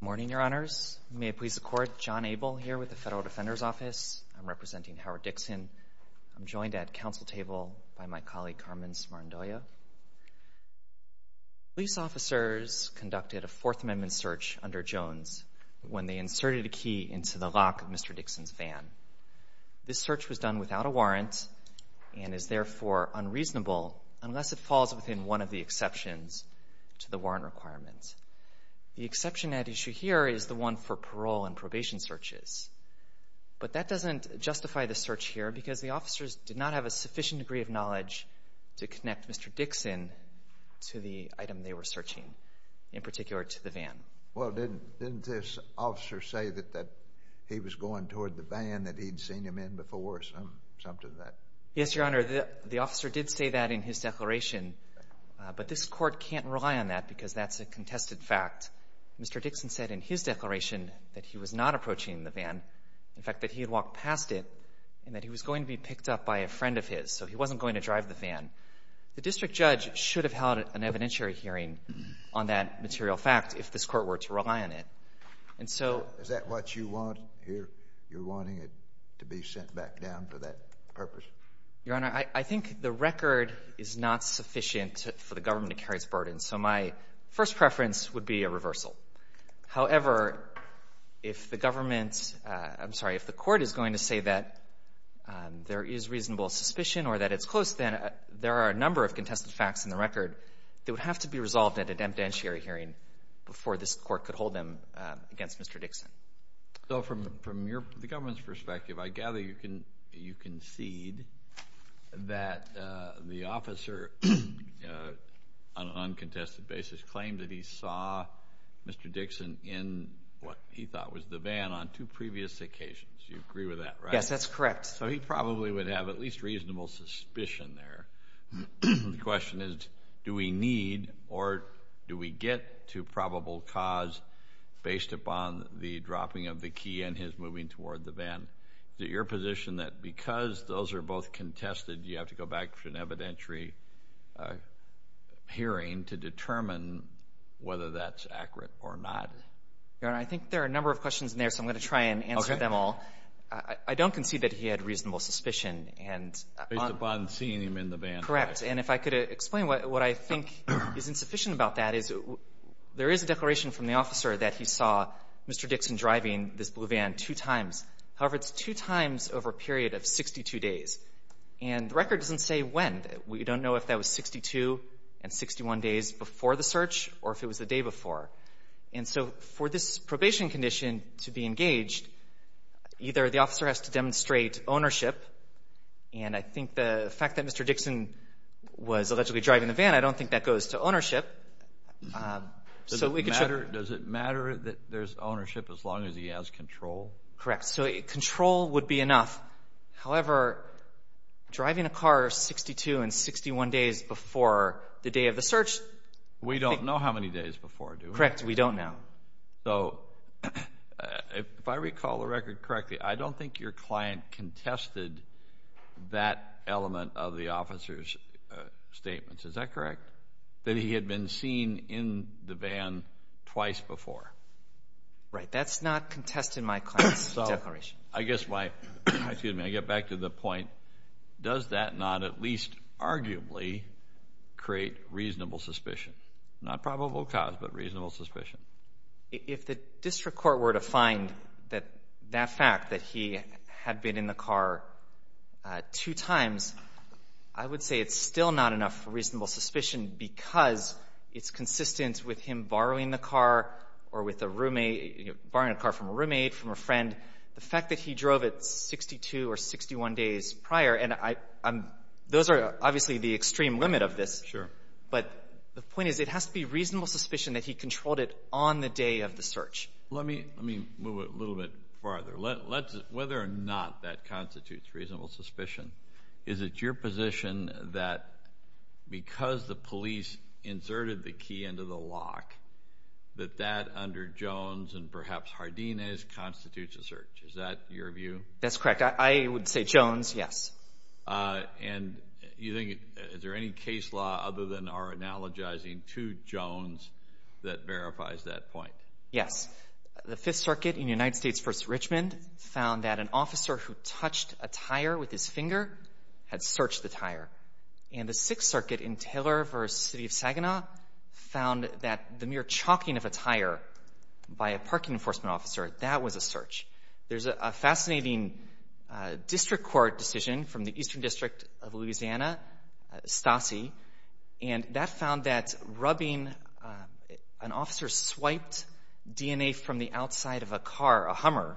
Good morning, Your Honors. May it please the Court, John Abel here with the Federal Defender's Office. I'm representing Howard Dixon. I'm joined at Council Table by my colleague Carmen Smarandolla. Police officers conducted a Fourth Amendment search under Jones when they inserted a key into the lock of Mr. Dixon's van. This search was done without a warrant and is therefore unreasonable unless it falls within one of the exceptions to the warrant requirements. The exception at issue here is the one for parole and probation searches. But that doesn't justify the search here because the officers did not have a sufficient degree of knowledge to connect Mr. Dixon to the item they were searching, in particular to the van. Well, didn't this officer say that he was going toward the van that he'd seen him in before or something like that? Yes, Your Honor, the officer did say that in his declaration, but this Court can't rely on that because that's a contested fact. Mr. Dixon said in his declaration that he was not approaching the van, in fact, that he had walked past it and that he was going to be picked up by a friend of his, so he wasn't going to drive the van. The district judge should have held an evidentiary hearing on that material fact if this Court were to rely on it. And so — Is that what you want here? You're wanting it to be sent back down for that purpose? Your Honor, I think the record is not sufficient for the government to carry its burden, so my first preference would be a reversal. However, if the government — I'm sorry, if the Court is going to say that there is reasonable suspicion or that it's close, then there are a number of contested facts in the record that would have to be resolved at an evidentiary hearing before this Court could hold them against Mr. Dixon. So from the government's perspective, I gather you concede that the officer on an uncontested basis claimed that he saw Mr. Dixon in what he thought was the van on two previous occasions. You agree with that, right? Yes, that's correct. So he probably would have at least reasonable suspicion there. The question is, do we need or do we get to probable cause based upon the dropping of the key and his moving toward the van? Is it your position that because those are both contested, you have to go back to an evidentiary hearing to determine whether that's accurate or not? Your Honor, I think there are a number of questions in there, so I'm going to try and answer them all. Okay. I don't concede that he had reasonable suspicion. Based upon seeing him in the van. Correct. And if I could explain what I think is insufficient about that is there is a declaration from the officer that he saw Mr. Dixon driving this blue van two times. However, it's two times over a period of 62 days. And the record doesn't say when. We don't know if that was 62 and 61 days before the search or if it was the day before. And so for this probation condition to be engaged, either the officer has to demonstrate ownership, and I think the fact that Mr. Dixon was allegedly driving the van, I don't think that goes to ownership. Does it matter that there's ownership as long as he has control? Correct. So control would be enough. However, driving a car 62 and 61 days before the day of the search. We don't know how many days before, do we? Correct. We don't know. So if I recall the record correctly, I don't think your client contested that element of the officer's statements. Is that correct? That he had been seen in the van twice before. Right. That's not contested in my client's declaration. I guess my, excuse me, I get back to the point, does that not at least arguably create reasonable suspicion? Not probable cause, but reasonable suspicion. If the district court were to find that fact that he had been in the car two times, I would say it's still not enough reasonable suspicion because it's consistent with him borrowing the car or with a roommate, borrowing a car from a roommate, from a friend. The fact that he drove it 62 or 61 days prior, and those are obviously the extreme limit of this. Sure. But the point is it has to be reasonable suspicion that he controlled it on the day of the search. Let me move it a little bit farther. Whether or not that constitutes reasonable suspicion, is it your position that because the police inserted the key into the lock, that that under Jones and perhaps Hardines constitutes a search? Is that your view? That's correct. I would say Jones, yes. And you think, is there any case law other than our analogizing to Jones that verifies that point? Yes. The Fifth Circuit in United States v. Richmond found that an officer who touched a tire with his finger had searched the tire. And the Sixth Circuit in Taylor v. City of Saginaw found that the mere chalking of a tire by a parking enforcement officer, that was a search. There's a fascinating district court decision from the Eastern District of Louisiana, STASI, and that found that rubbing, an officer swiped DNA from the outside of a car, a Hummer,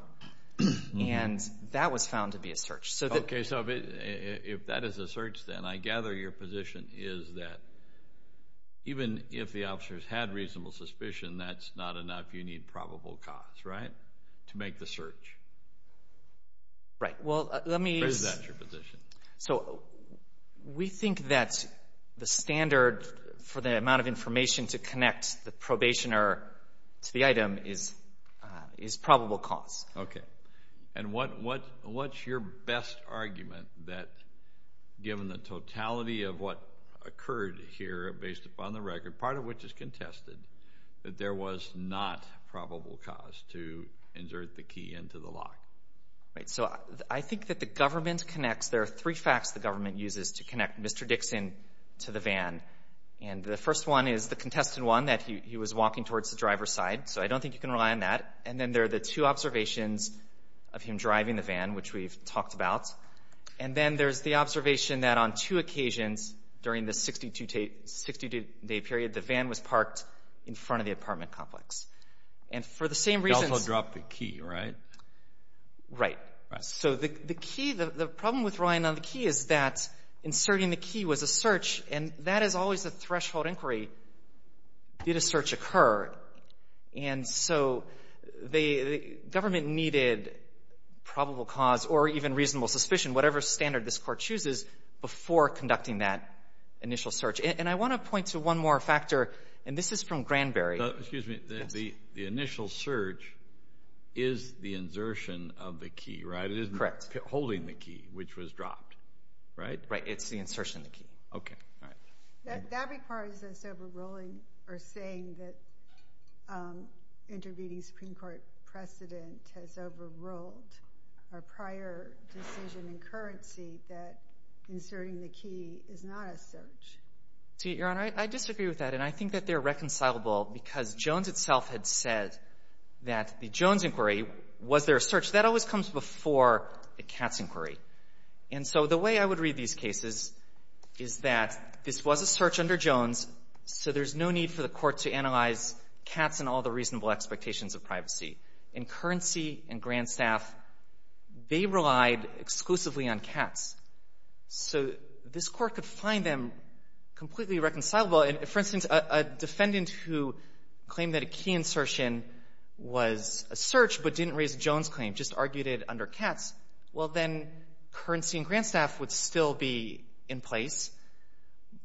and that was found to be a search. Okay. So if that is a search, then I gather your position is that even if the officers had reasonable suspicion, that's not enough. You need probable cause, right, to make the search. Right. Well, let me... Or is that your position? So we think that the standard for the amount of information to connect the probationer to the item is probable cause. Okay. And what's your best argument that given the totality of what occurred here based upon the record, part of which is contested, that there was not probable cause to insert the key into the lock? Right. So I think that the government connects. There are three facts the government uses to connect Mr. Dixon to the van. And the first one is the contested one, that he was walking towards the driver's side. So I don't think you can rely on that. And then there are the two observations of him driving the van, which we've talked about. And then there's the observation that on two occasions during the 62-day period, the van was parked in front of the apartment complex. And for the same reasons... Right. So the key, the problem with relying on the key is that inserting the key was a search, and that is always a threshold inquiry. Did a search occur? And so the government needed probable cause or even reasonable suspicion, whatever standard this court chooses, before conducting that initial search. And I want to point to one more factor, and this is from Granberry. Excuse me. The initial search is the insertion of the key, right? Correct. It is holding the key, which was dropped, right? Right. It's the insertion of the key. Okay. All right. That requires us overruling or saying that intervening Supreme Court precedent has overruled our prior decision in currency that inserting the key is not a search. Your Honor, I disagree with that. And I think that they're reconcilable because Jones itself had said that the Jones inquiry, was there a search? That always comes before the Katz inquiry. And so the way I would read these cases is that this was a search under Jones, so there's no need for the court to analyze Katz and all the reasonable expectations of privacy. In currency and grand staff, they relied exclusively on Katz. So this court could find them completely reconcilable. For instance, a defendant who claimed that a key insertion was a search but didn't raise a Jones claim, just argued it under Katz, well, then currency and grand staff would still be in place.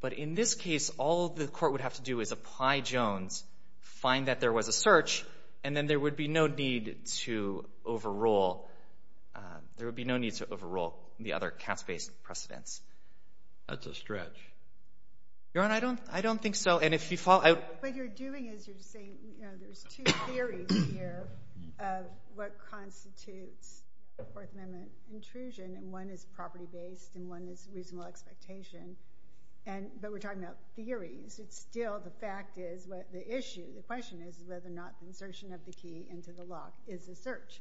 But in this case, all the court would have to do is apply Jones, find that there was a search, and then there would be no need to overrule the other Katz-based precedents. That's a stretch. Your Honor, I don't think so. What you're doing is you're saying there's two theories here of what constitutes Fourth Amendment intrusion, and one is property-based and one is reasonable expectation. But we're talking about theories. It's still the fact is the issue, the question is whether or not the insertion of the key into the lock is a search.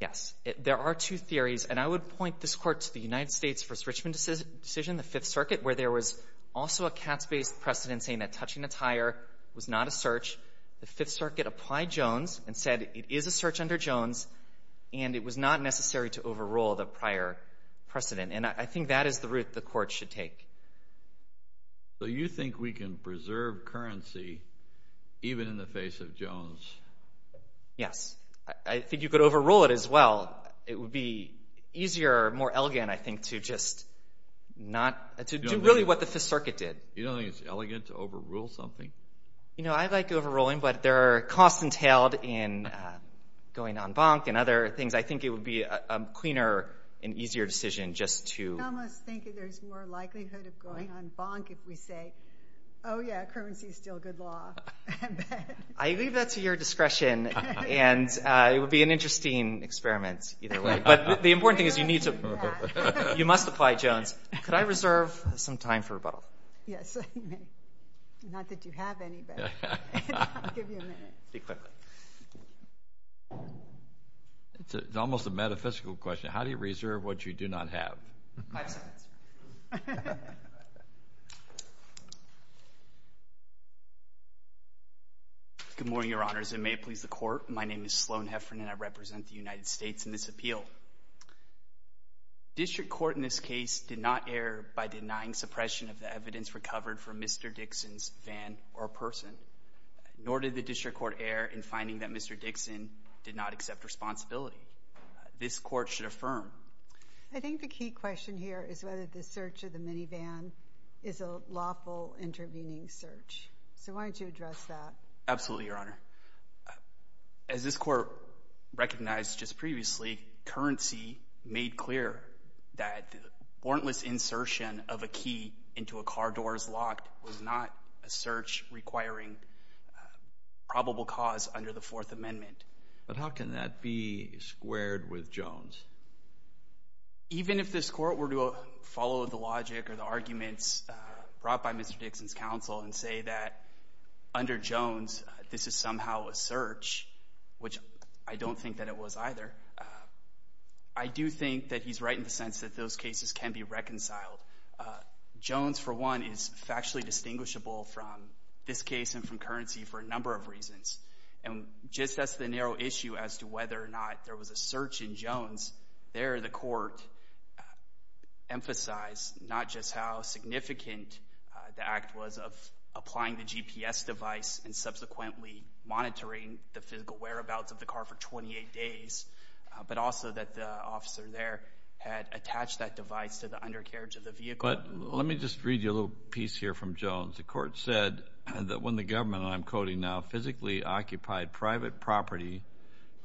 Yes. There are two theories. And I would point this court to the United States v. Richmond decision, the Fifth Circuit, where there was also a Katz-based precedent saying that touching a tire was not a search. The Fifth Circuit applied Jones and said it is a search under Jones, and it was not necessary to overrule the prior precedent. And I think that is the route the court should take. So you think we can preserve currency even in the face of Jones? Yes. I think you could overrule it as well. It would be easier, more elegant, I think, to just not do really what the Fifth Circuit did. You don't think it's elegant to overrule something? You know, I like overruling, but there are costs entailed in going en banc and other things. I think it would be a cleaner and easier decision just to... I almost think there's more likelihood of going en banc if we say, oh, yeah, currency is still good law. I leave that to your discretion, and it would be an interesting experiment. But the important thing is you must apply Jones. Could I reserve some time for rebuttal? Yes, you may. Not that you have any, but I'll give you a minute. Speak quickly. It's almost a metaphysical question. How do you reserve what you do not have? Good morning, Your Honors, and may it please the Court. My name is Sloan Heffernan, and I represent the United States in this appeal. District Court in this case did not err by denying suppression of the evidence recovered from Mr. Dixon's van or person, nor did the District Court err in finding that Mr. Dixon did not accept responsibility. This Court should affirm. I think the key question here is whether the search of the minivan is a lawful intervening search. So why don't you address that? Absolutely, Your Honor. As this Court recognized just previously, currency made clear that the warrantless insertion of a key into a car door as locked was not a search requiring probable cause under the Fourth Amendment. But how can that be squared with Jones? Even if this Court were to follow the logic or the arguments brought by Mr. Dixon's counsel and say that under Jones this is somehow a search, which I don't think that it was either, I do think that he's right in the sense that those cases can be reconciled. Jones, for one, is factually distinguishable from this case and from currency for a number of reasons. And just as the narrow issue as to whether or not there was a search in Jones, there the Court emphasized not just how significant the act was of applying the GPS device and subsequently monitoring the physical whereabouts of the car for 28 days, but also that the officer there had attached that device to the undercarriage of the vehicle. But let me just read you a little piece here from Jones. The Court said that when the government, and I'm quoting now, physically occupied private property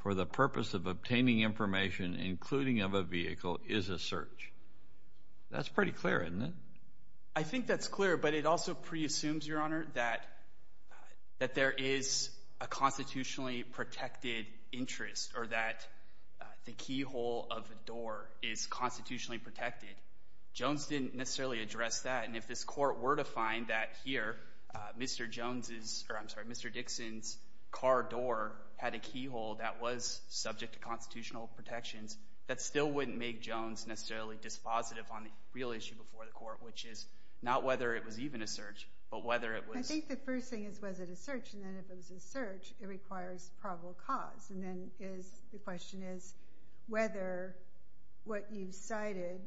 for the purpose of obtaining information, including of a vehicle, is a search. That's pretty clear, isn't it? I think that's clear, but it also preassumes, Your Honor, that there is a constitutionally protected interest or that the keyhole of the door is constitutionally protected. Jones didn't necessarily address that. And if this Court were to find that here, Mr. Dixon's car door had a keyhole that was subject to constitutional protections, that still wouldn't make Jones necessarily dispositive on the real issue before the Court, which is not whether it was even a search, but whether it was— I think the first thing is, was it a search? And then if it was a search, it requires probable cause. And then the question is whether what you cited,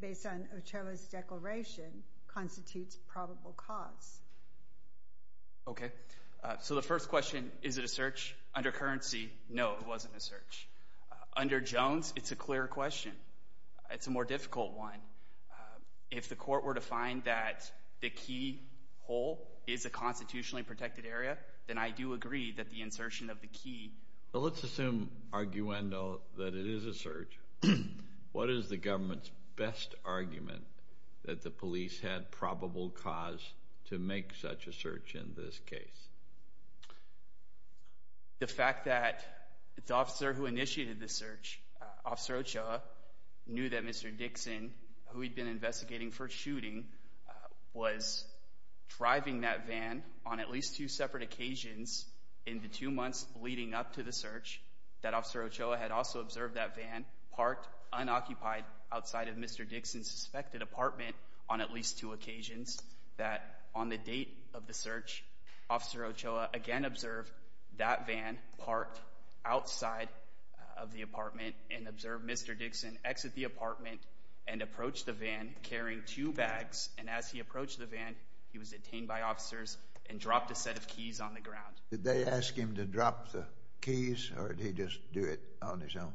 based on Ochoa's declaration, constitutes probable cause. Okay. So the first question, is it a search? Under currency, no, it wasn't a search. Under Jones, it's a clearer question. It's a more difficult one. If the Court were to find that the keyhole is a constitutionally protected area, then I do agree that the insertion of the key— Well, let's assume, arguendo, that it is a search. What is the government's best argument that the police had probable cause to make such a search in this case? The fact that the officer who initiated the search, Officer Ochoa, knew that Mr. Dixon, who he'd been investigating for shooting, was driving that van on at least two separate occasions in the two months leading up to the search, that Officer Ochoa had also observed that van parked unoccupied outside of Mr. Dixon's suspected apartment on at least two occasions, that on the date of the search, Officer Ochoa again observed that van parked outside of the apartment and observed Mr. Dixon exit the apartment and approach the van carrying two bags. And as he approached the van, he was detained by officers and dropped a set of keys on the ground. Did they ask him to drop the keys, or did he just do it on his own?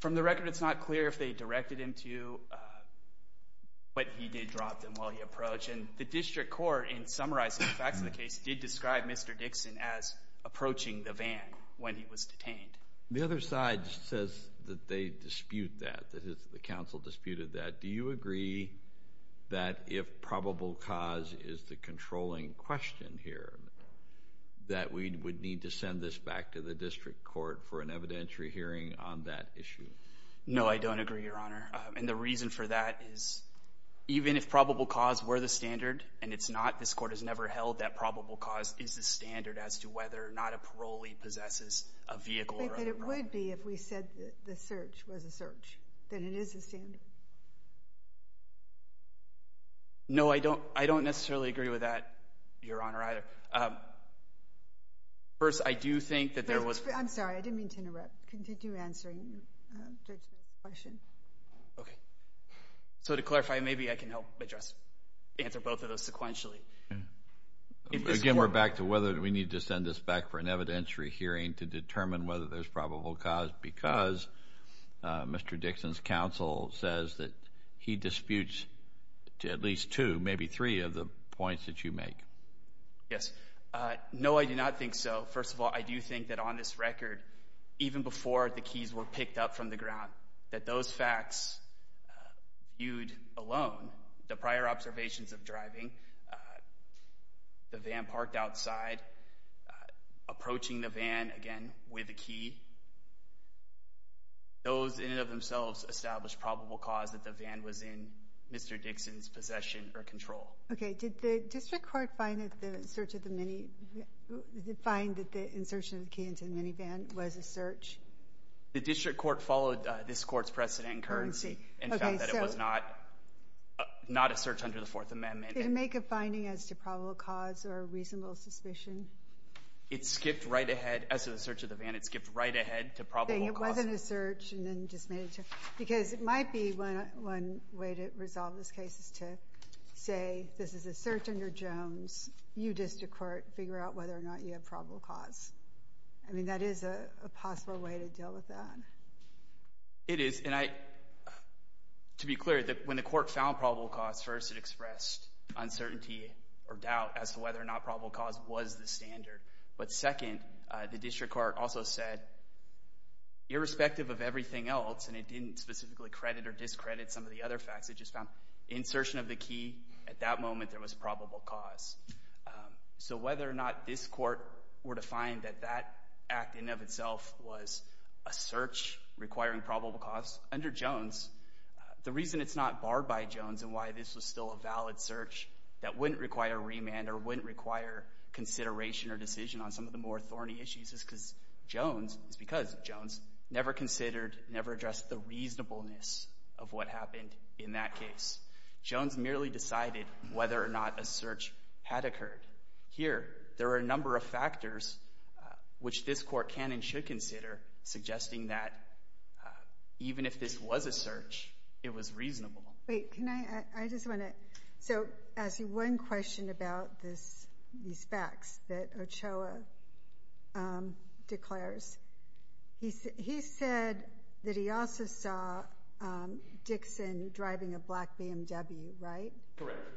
From the record, it's not clear if they directed him to, but he did drop them while he approached. And the District Court, in summarizing the facts of the case, did describe Mr. Dixon as approaching the van when he was detained. The other side says that they dispute that, that the counsel disputed that. Do you agree that if probable cause is the controlling question here, that we would need to send this back to the District Court for an evidentiary hearing on that issue? No, I don't agree, Your Honor. And the reason for that is even if probable cause were the standard, and it's not, this Court has never held that probable cause is the standard as to whether or not a parolee possesses a vehicle. But it would be if we said that the search was a search, that it is a standard. No, I don't necessarily agree with that, Your Honor, either. First, I do think that there was— I'm sorry, I didn't mean to interrupt. Continue answering Judge Smith's question. Okay. So to clarify, maybe I can help answer both of those sequentially. Again, we're back to whether we need to send this back for an evidentiary hearing to determine whether there's probable cause because Mr. Dixon's counsel says that he disputes at least two, maybe three of the points that you make. Yes. No, I do not think so. First of all, I do think that on this record, even before the keys were picked up from the ground, that those facts viewed alone, the prior observations of driving, the van parked outside, approaching the van again with the key, those in and of themselves establish probable cause that the van was in Mr. Dixon's possession or control. Okay. Did the district court find that the insertion of the key into the minivan was a search? The district court followed this court's precedent in currency and found that it was not a search under the Fourth Amendment. Did it make a finding as to probable cause or reasonable suspicion? It skipped right ahead. As to the search of the van, it skipped right ahead to probable cause. It wasn't a search and then just made a— because it might be one way to resolve this case is to say this is a search under Jones. You, district court, figure out whether or not you have probable cause. I mean, that is a possible way to deal with that. It is, and I—to be clear, when the court found probable cause, first it expressed uncertainty or doubt as to whether or not probable cause was the standard. But second, the district court also said, irrespective of everything else, and it didn't specifically credit or discredit some of the other facts, it just found insertion of the key at that moment there was probable cause. So whether or not this court were to find that that act in and of itself was a search requiring probable cause, under Jones, the reason it's not barred by Jones and why this was still a valid search that wouldn't require remand or wouldn't require consideration or decision on some of the more thorny issues is because Jones never considered, never addressed the reasonableness of what happened in that case. Jones merely decided whether or not a search had occurred. Here, there are a number of factors which this court can and should consider suggesting that even if this was a search, it was reasonable. Wait, can I—I just want to—so as one question about this, these facts that Ochoa declares, he said that he also saw Dixon driving a black BMW, right? Correct.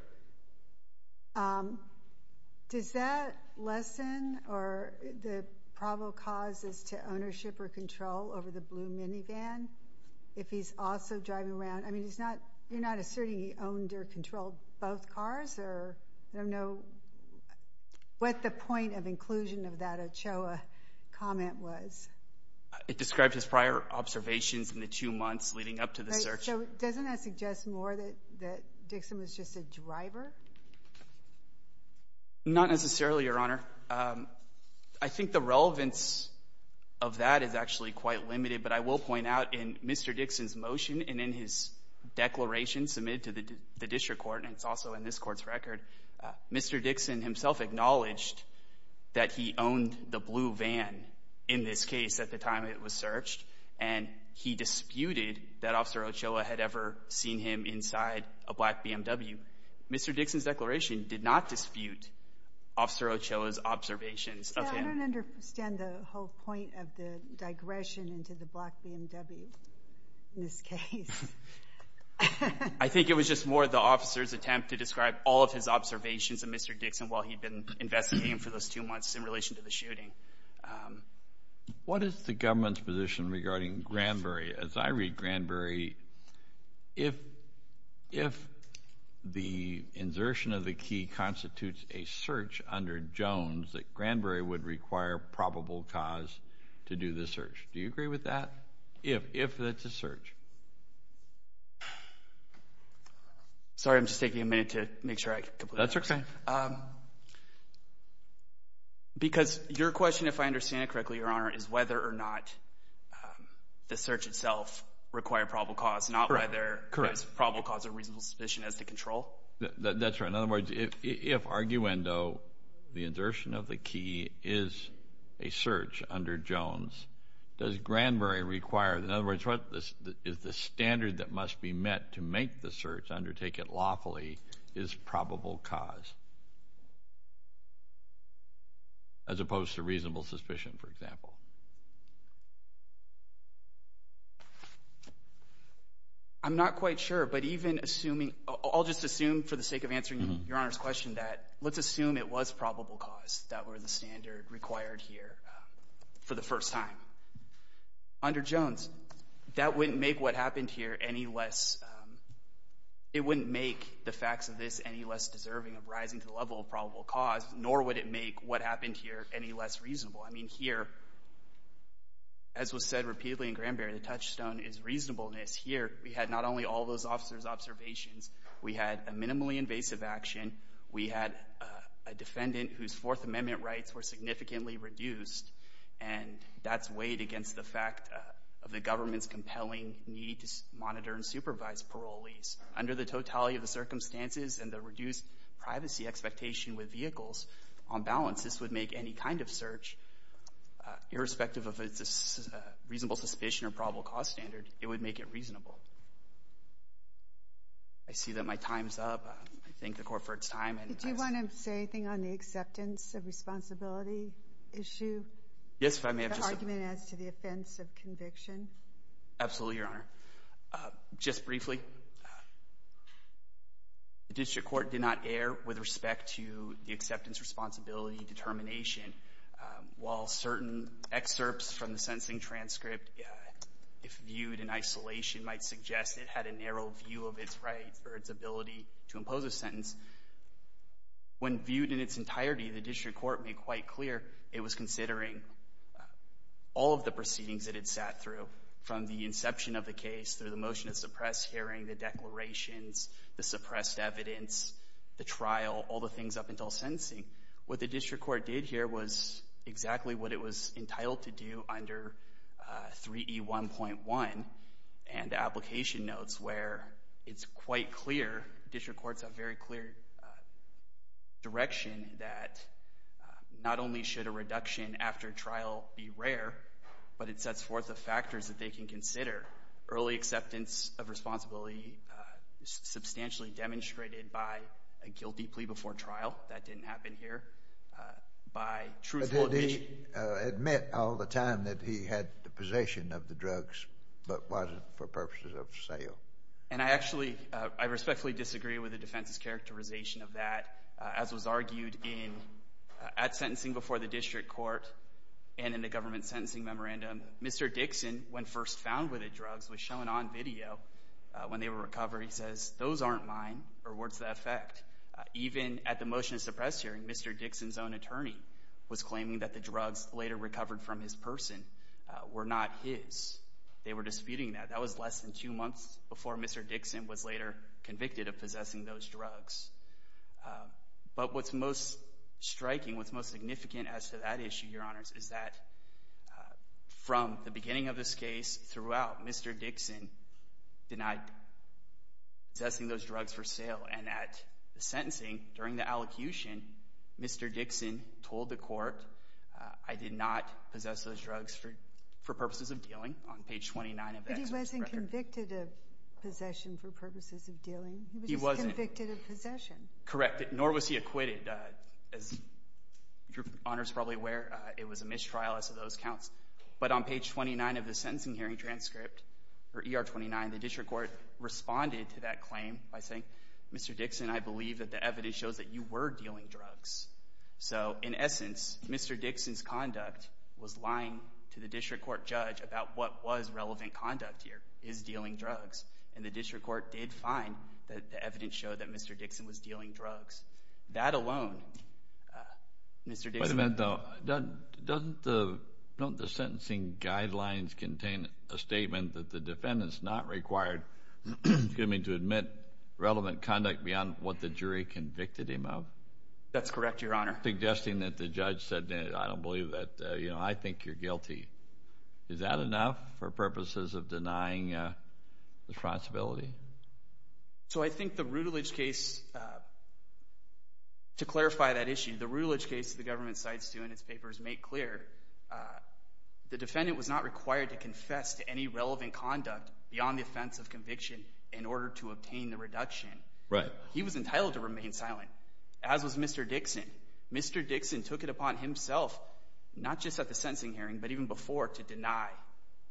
Does that lessen the probable causes to ownership or control over the blue minivan if he's also driving around? I mean, you're not asserting he owned or controlled both cars, or I don't know what the point of inclusion of that Ochoa comment was. It describes his prior observations in the two months leading up to the search. So doesn't that suggest more that Dixon was just a driver? Not necessarily, Your Honor. I think the relevance of that is actually quite limited, but I will point out in Mr. Dixon's motion and in his declaration submitted to the district court, and it's also in this court's record, Mr. Dixon himself acknowledged that he owned the blue van in this case at the time it was searched, and he disputed that Officer Ochoa had ever seen him inside a black BMW. Mr. Dixon's declaration did not dispute Officer Ochoa's observations of him. I don't understand the whole point of the digression into the black BMW in this case. I think it was just more the officer's attempt to describe all of his observations of Mr. Dixon while he'd been investigating him for those two months in relation to the shooting. What is the government's position regarding Granbury? As I read Granbury, if the insertion of the key constitutes a search under Jones, that Granbury would require probable cause to do the search. Do you agree with that, if it's a search? Sorry, I'm just taking a minute to make sure I complete that. That's okay. Because your question, if I understand it correctly, Your Honor, is whether or not the search itself required probable cause, not whether there's probable cause or reasonable suspicion as to control. That's right. In other words, if arguendo, the insertion of the key is a search under Jones, does Granbury require, in other words, what is the standard that must be met to make the search, undertake it lawfully, is probable cause as opposed to reasonable suspicion, for example? I'm not quite sure, but even assuming, I'll just assume for the sake of answering Your Honor's question that let's assume it was probable cause that were the standard required here for the first time. Under Jones, that wouldn't make what happened here any less, it wouldn't make the facts of this any less deserving of rising to the level of probable cause, nor would it make what happened here any less reasonable. I mean, here, as was said repeatedly in Granbury, the touchstone is reasonableness. Here, we had not only all those officers' observations, we had a minimally invasive action, we had a defendant whose Fourth Amendment rights were significantly reduced, and that's weighed against the fact of the government's compelling need to monitor and supervise parolees. Under the totality of the circumstances and the reduced privacy expectation with vehicles, on balance, this would make any kind of search, irrespective of if it's a reasonable suspicion or probable cause standard, it would make it reasonable. I see that my time's up. I thank the Court for its time. Did you want to say anything on the acceptance of responsibility issue? Yes, if I may have just— Absolutely, Your Honor. Just briefly, the District Court did not err with respect to the acceptance responsibility determination. While certain excerpts from the sentencing transcript, if viewed in isolation, might suggest it had a narrow view of its rights or its ability to impose a sentence, when viewed in its entirety, the District Court made quite clear it was considering all of the proceedings that it sat through from the inception of the case through the motion to suppress hearing, the declarations, the suppressed evidence, the trial, all the things up until sentencing. What the District Court did here was exactly what it was entitled to do under 3E1.1 and the application notes where it's quite clear, District Courts have very clear direction that not only should a reduction after trial be rare, but it sets forth the factors that they can consider. Early acceptance of responsibility substantially demonstrated by a guilty plea before trial. That didn't happen here. But did he admit all the time that he had the possession of the drugs, but was it for purposes of sale? And I actually, I respectfully disagree with the defense's characterization of that, as was argued at sentencing before the District Court and in the government sentencing memorandum. Mr. Dixon, when first found with the drugs, was shown on video when they were recovered. He says, those aren't mine, or what's the effect? Even at the motion to suppress hearing, Mr. Dixon's own attorney was claiming that the drugs later recovered from his person were not his. They were disputing that. That was less than two months before Mr. Dixon was later convicted of possessing those drugs. But what's most striking, what's most significant as to that issue, Your Honors, is that from the beginning of this case throughout, Mr. Dixon denied possessing those drugs for sale. And at the sentencing, during the allocution, Mr. Dixon told the court, I did not possess those drugs for purposes of dealing. But he wasn't convicted of possession for purposes of dealing. He was convicted of possession. Correct, nor was he acquitted. As Your Honors are probably aware, it was a mistrial as to those counts. But on page 29 of the sentencing hearing transcript, or ER 29, the District Court responded to that claim by saying, Mr. Dixon, I believe that the evidence shows that you were dealing drugs. So, in essence, Mr. Dixon's conduct was lying to the District Court judge about what was relevant conduct here, is dealing drugs. And the District Court did find that the evidence showed that Mr. Dixon was dealing drugs. That alone, Mr. Dixon— Wait a minute, though. Don't the sentencing guidelines contain a statement that the defendant is not required, excuse me, to admit relevant conduct beyond what the jury convicted him of? That's correct, Your Honor. Suggesting that the judge said, I don't believe that, you know, I think you're guilty. Is that enough for purposes of denying responsibility? So I think the Rutledge case, to clarify that issue, the Rutledge case the government cites, too, in its papers, make clear the defendant was not required to confess to any relevant conduct beyond the offense of conviction in order to obtain the reduction. Right. So he was entitled to remain silent, as was Mr. Dixon. Mr. Dixon took it upon himself, not just at the sentencing hearing, but even before, to deny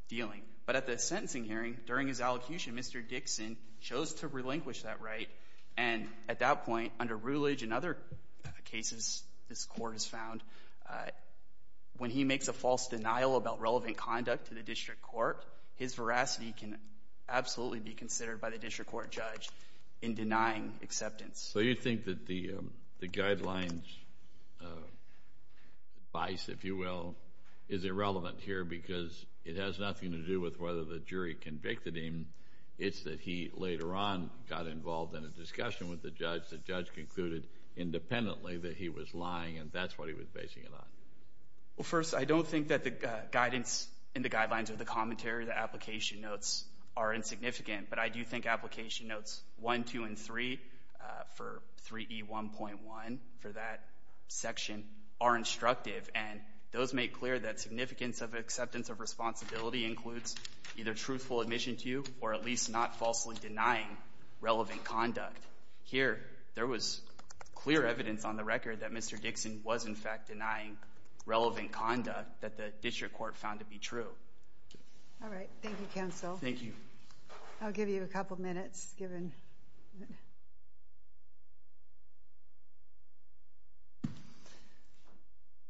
dealing. But at the sentencing hearing, during his allocution, Mr. Dixon chose to relinquish that right. And at that point, under Rutledge and other cases this Court has found, when he makes a false denial about relevant conduct to the District Court, his veracity can absolutely be considered by the District Court judge in denying acceptance. So you think that the guidelines, vice, if you will, is irrelevant here because it has nothing to do with whether the jury convicted him. It's that he later on got involved in a discussion with the judge. The judge concluded independently that he was lying, and that's what he was basing it on. Well, first, I don't think that the guidance in the guidelines or the commentary, the application notes, are insignificant. But I do think application notes 1, 2, and 3, for 3E1.1, for that section, are instructive. And those make clear that significance of acceptance of responsibility includes either truthful admission to or at least not falsely denying relevant conduct. Here, there was clear evidence on the record that Mr. Dixon was, in fact, denying relevant conduct that the District Court found to be true. All right. Thank you, counsel. Thank you. I'll give you a couple minutes given.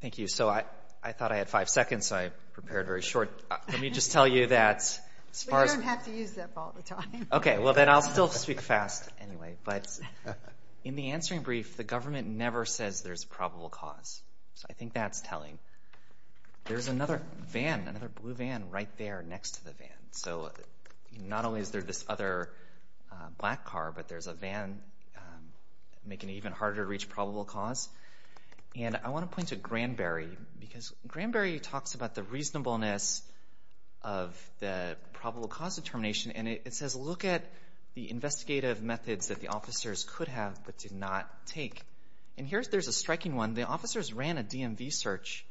Thank you. So I thought I had five seconds, so I prepared very short. Let me just tell you that as far as— You don't have to use that all the time. Okay. Well, then I'll still speak fast anyway. But in the answering brief, the government never says there's probable cause. So I think that's telling. There's another van, another blue van, right there next to the van. So not only is there this other black car, but there's a van making it even harder to reach probable cause. And I want to point to Granberry, because Granberry talks about the reasonableness of the probable cause determination, and it says look at the investigative methods that the officers could have but did not take. And here, there's a striking one. The officers ran a DMV search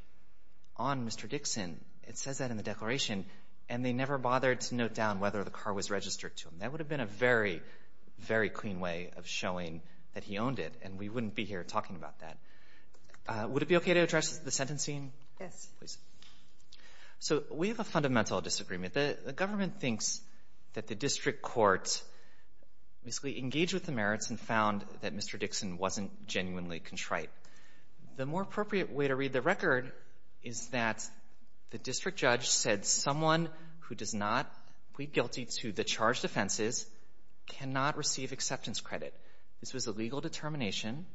on Mr. Dixon. It says that in the declaration, and they never bothered to note down whether the car was registered to them. That would have been a very, very clean way of showing that he owned it, and we wouldn't be here talking about that. Would it be okay to address the sentencing? Yes. Please. So we have a fundamental disagreement. The government thinks that the district courts basically engaged with the merits and found that Mr. Dixon wasn't genuinely contrite. The more appropriate way to read the record is that the district judge said someone who does not plead guilty to the charged offenses cannot receive acceptance credit. This was a legal determination,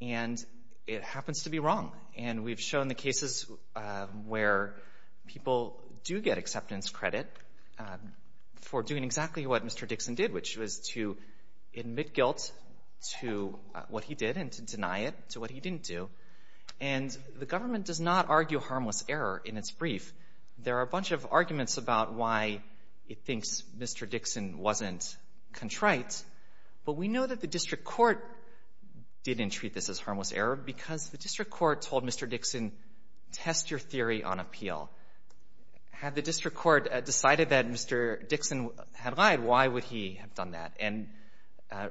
and it happens to be wrong. And we've shown the cases where people do get acceptance credit for doing exactly what Mr. Dixon did, which was to admit guilt to what he did and to deny it to what he didn't do. And the government does not argue harmless error in its brief. There are a bunch of arguments about why it thinks Mr. Dixon wasn't contrite, but we know that the district court didn't treat this as harmless error because the district court told Mr. Dixon, test your theory on appeal. Had the district court decided that Mr. Dixon had lied, why would he have done that? And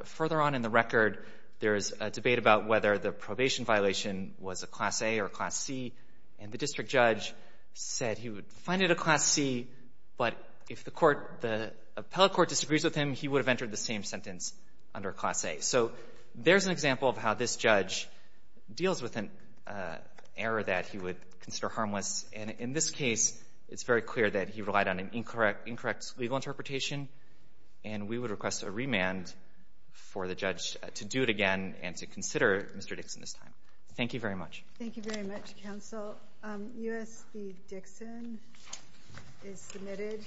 further on in the record, there is a debate about whether the probation violation was a Class A or a Class C, and the district judge said he would find it a Class C, but if the court, the appellate court disagrees with him, he would have entered the same sentence under Class A. So there's an example of how this judge deals with an error that he would consider harmless. And in this case, it's very clear that he relied on an incorrect legal interpretation, and we would request a remand for the judge to do it again and to consider Mr. Dixon this time. Thank you very much. Thank you very much, counsel. U.S. v. Dixon is submitted.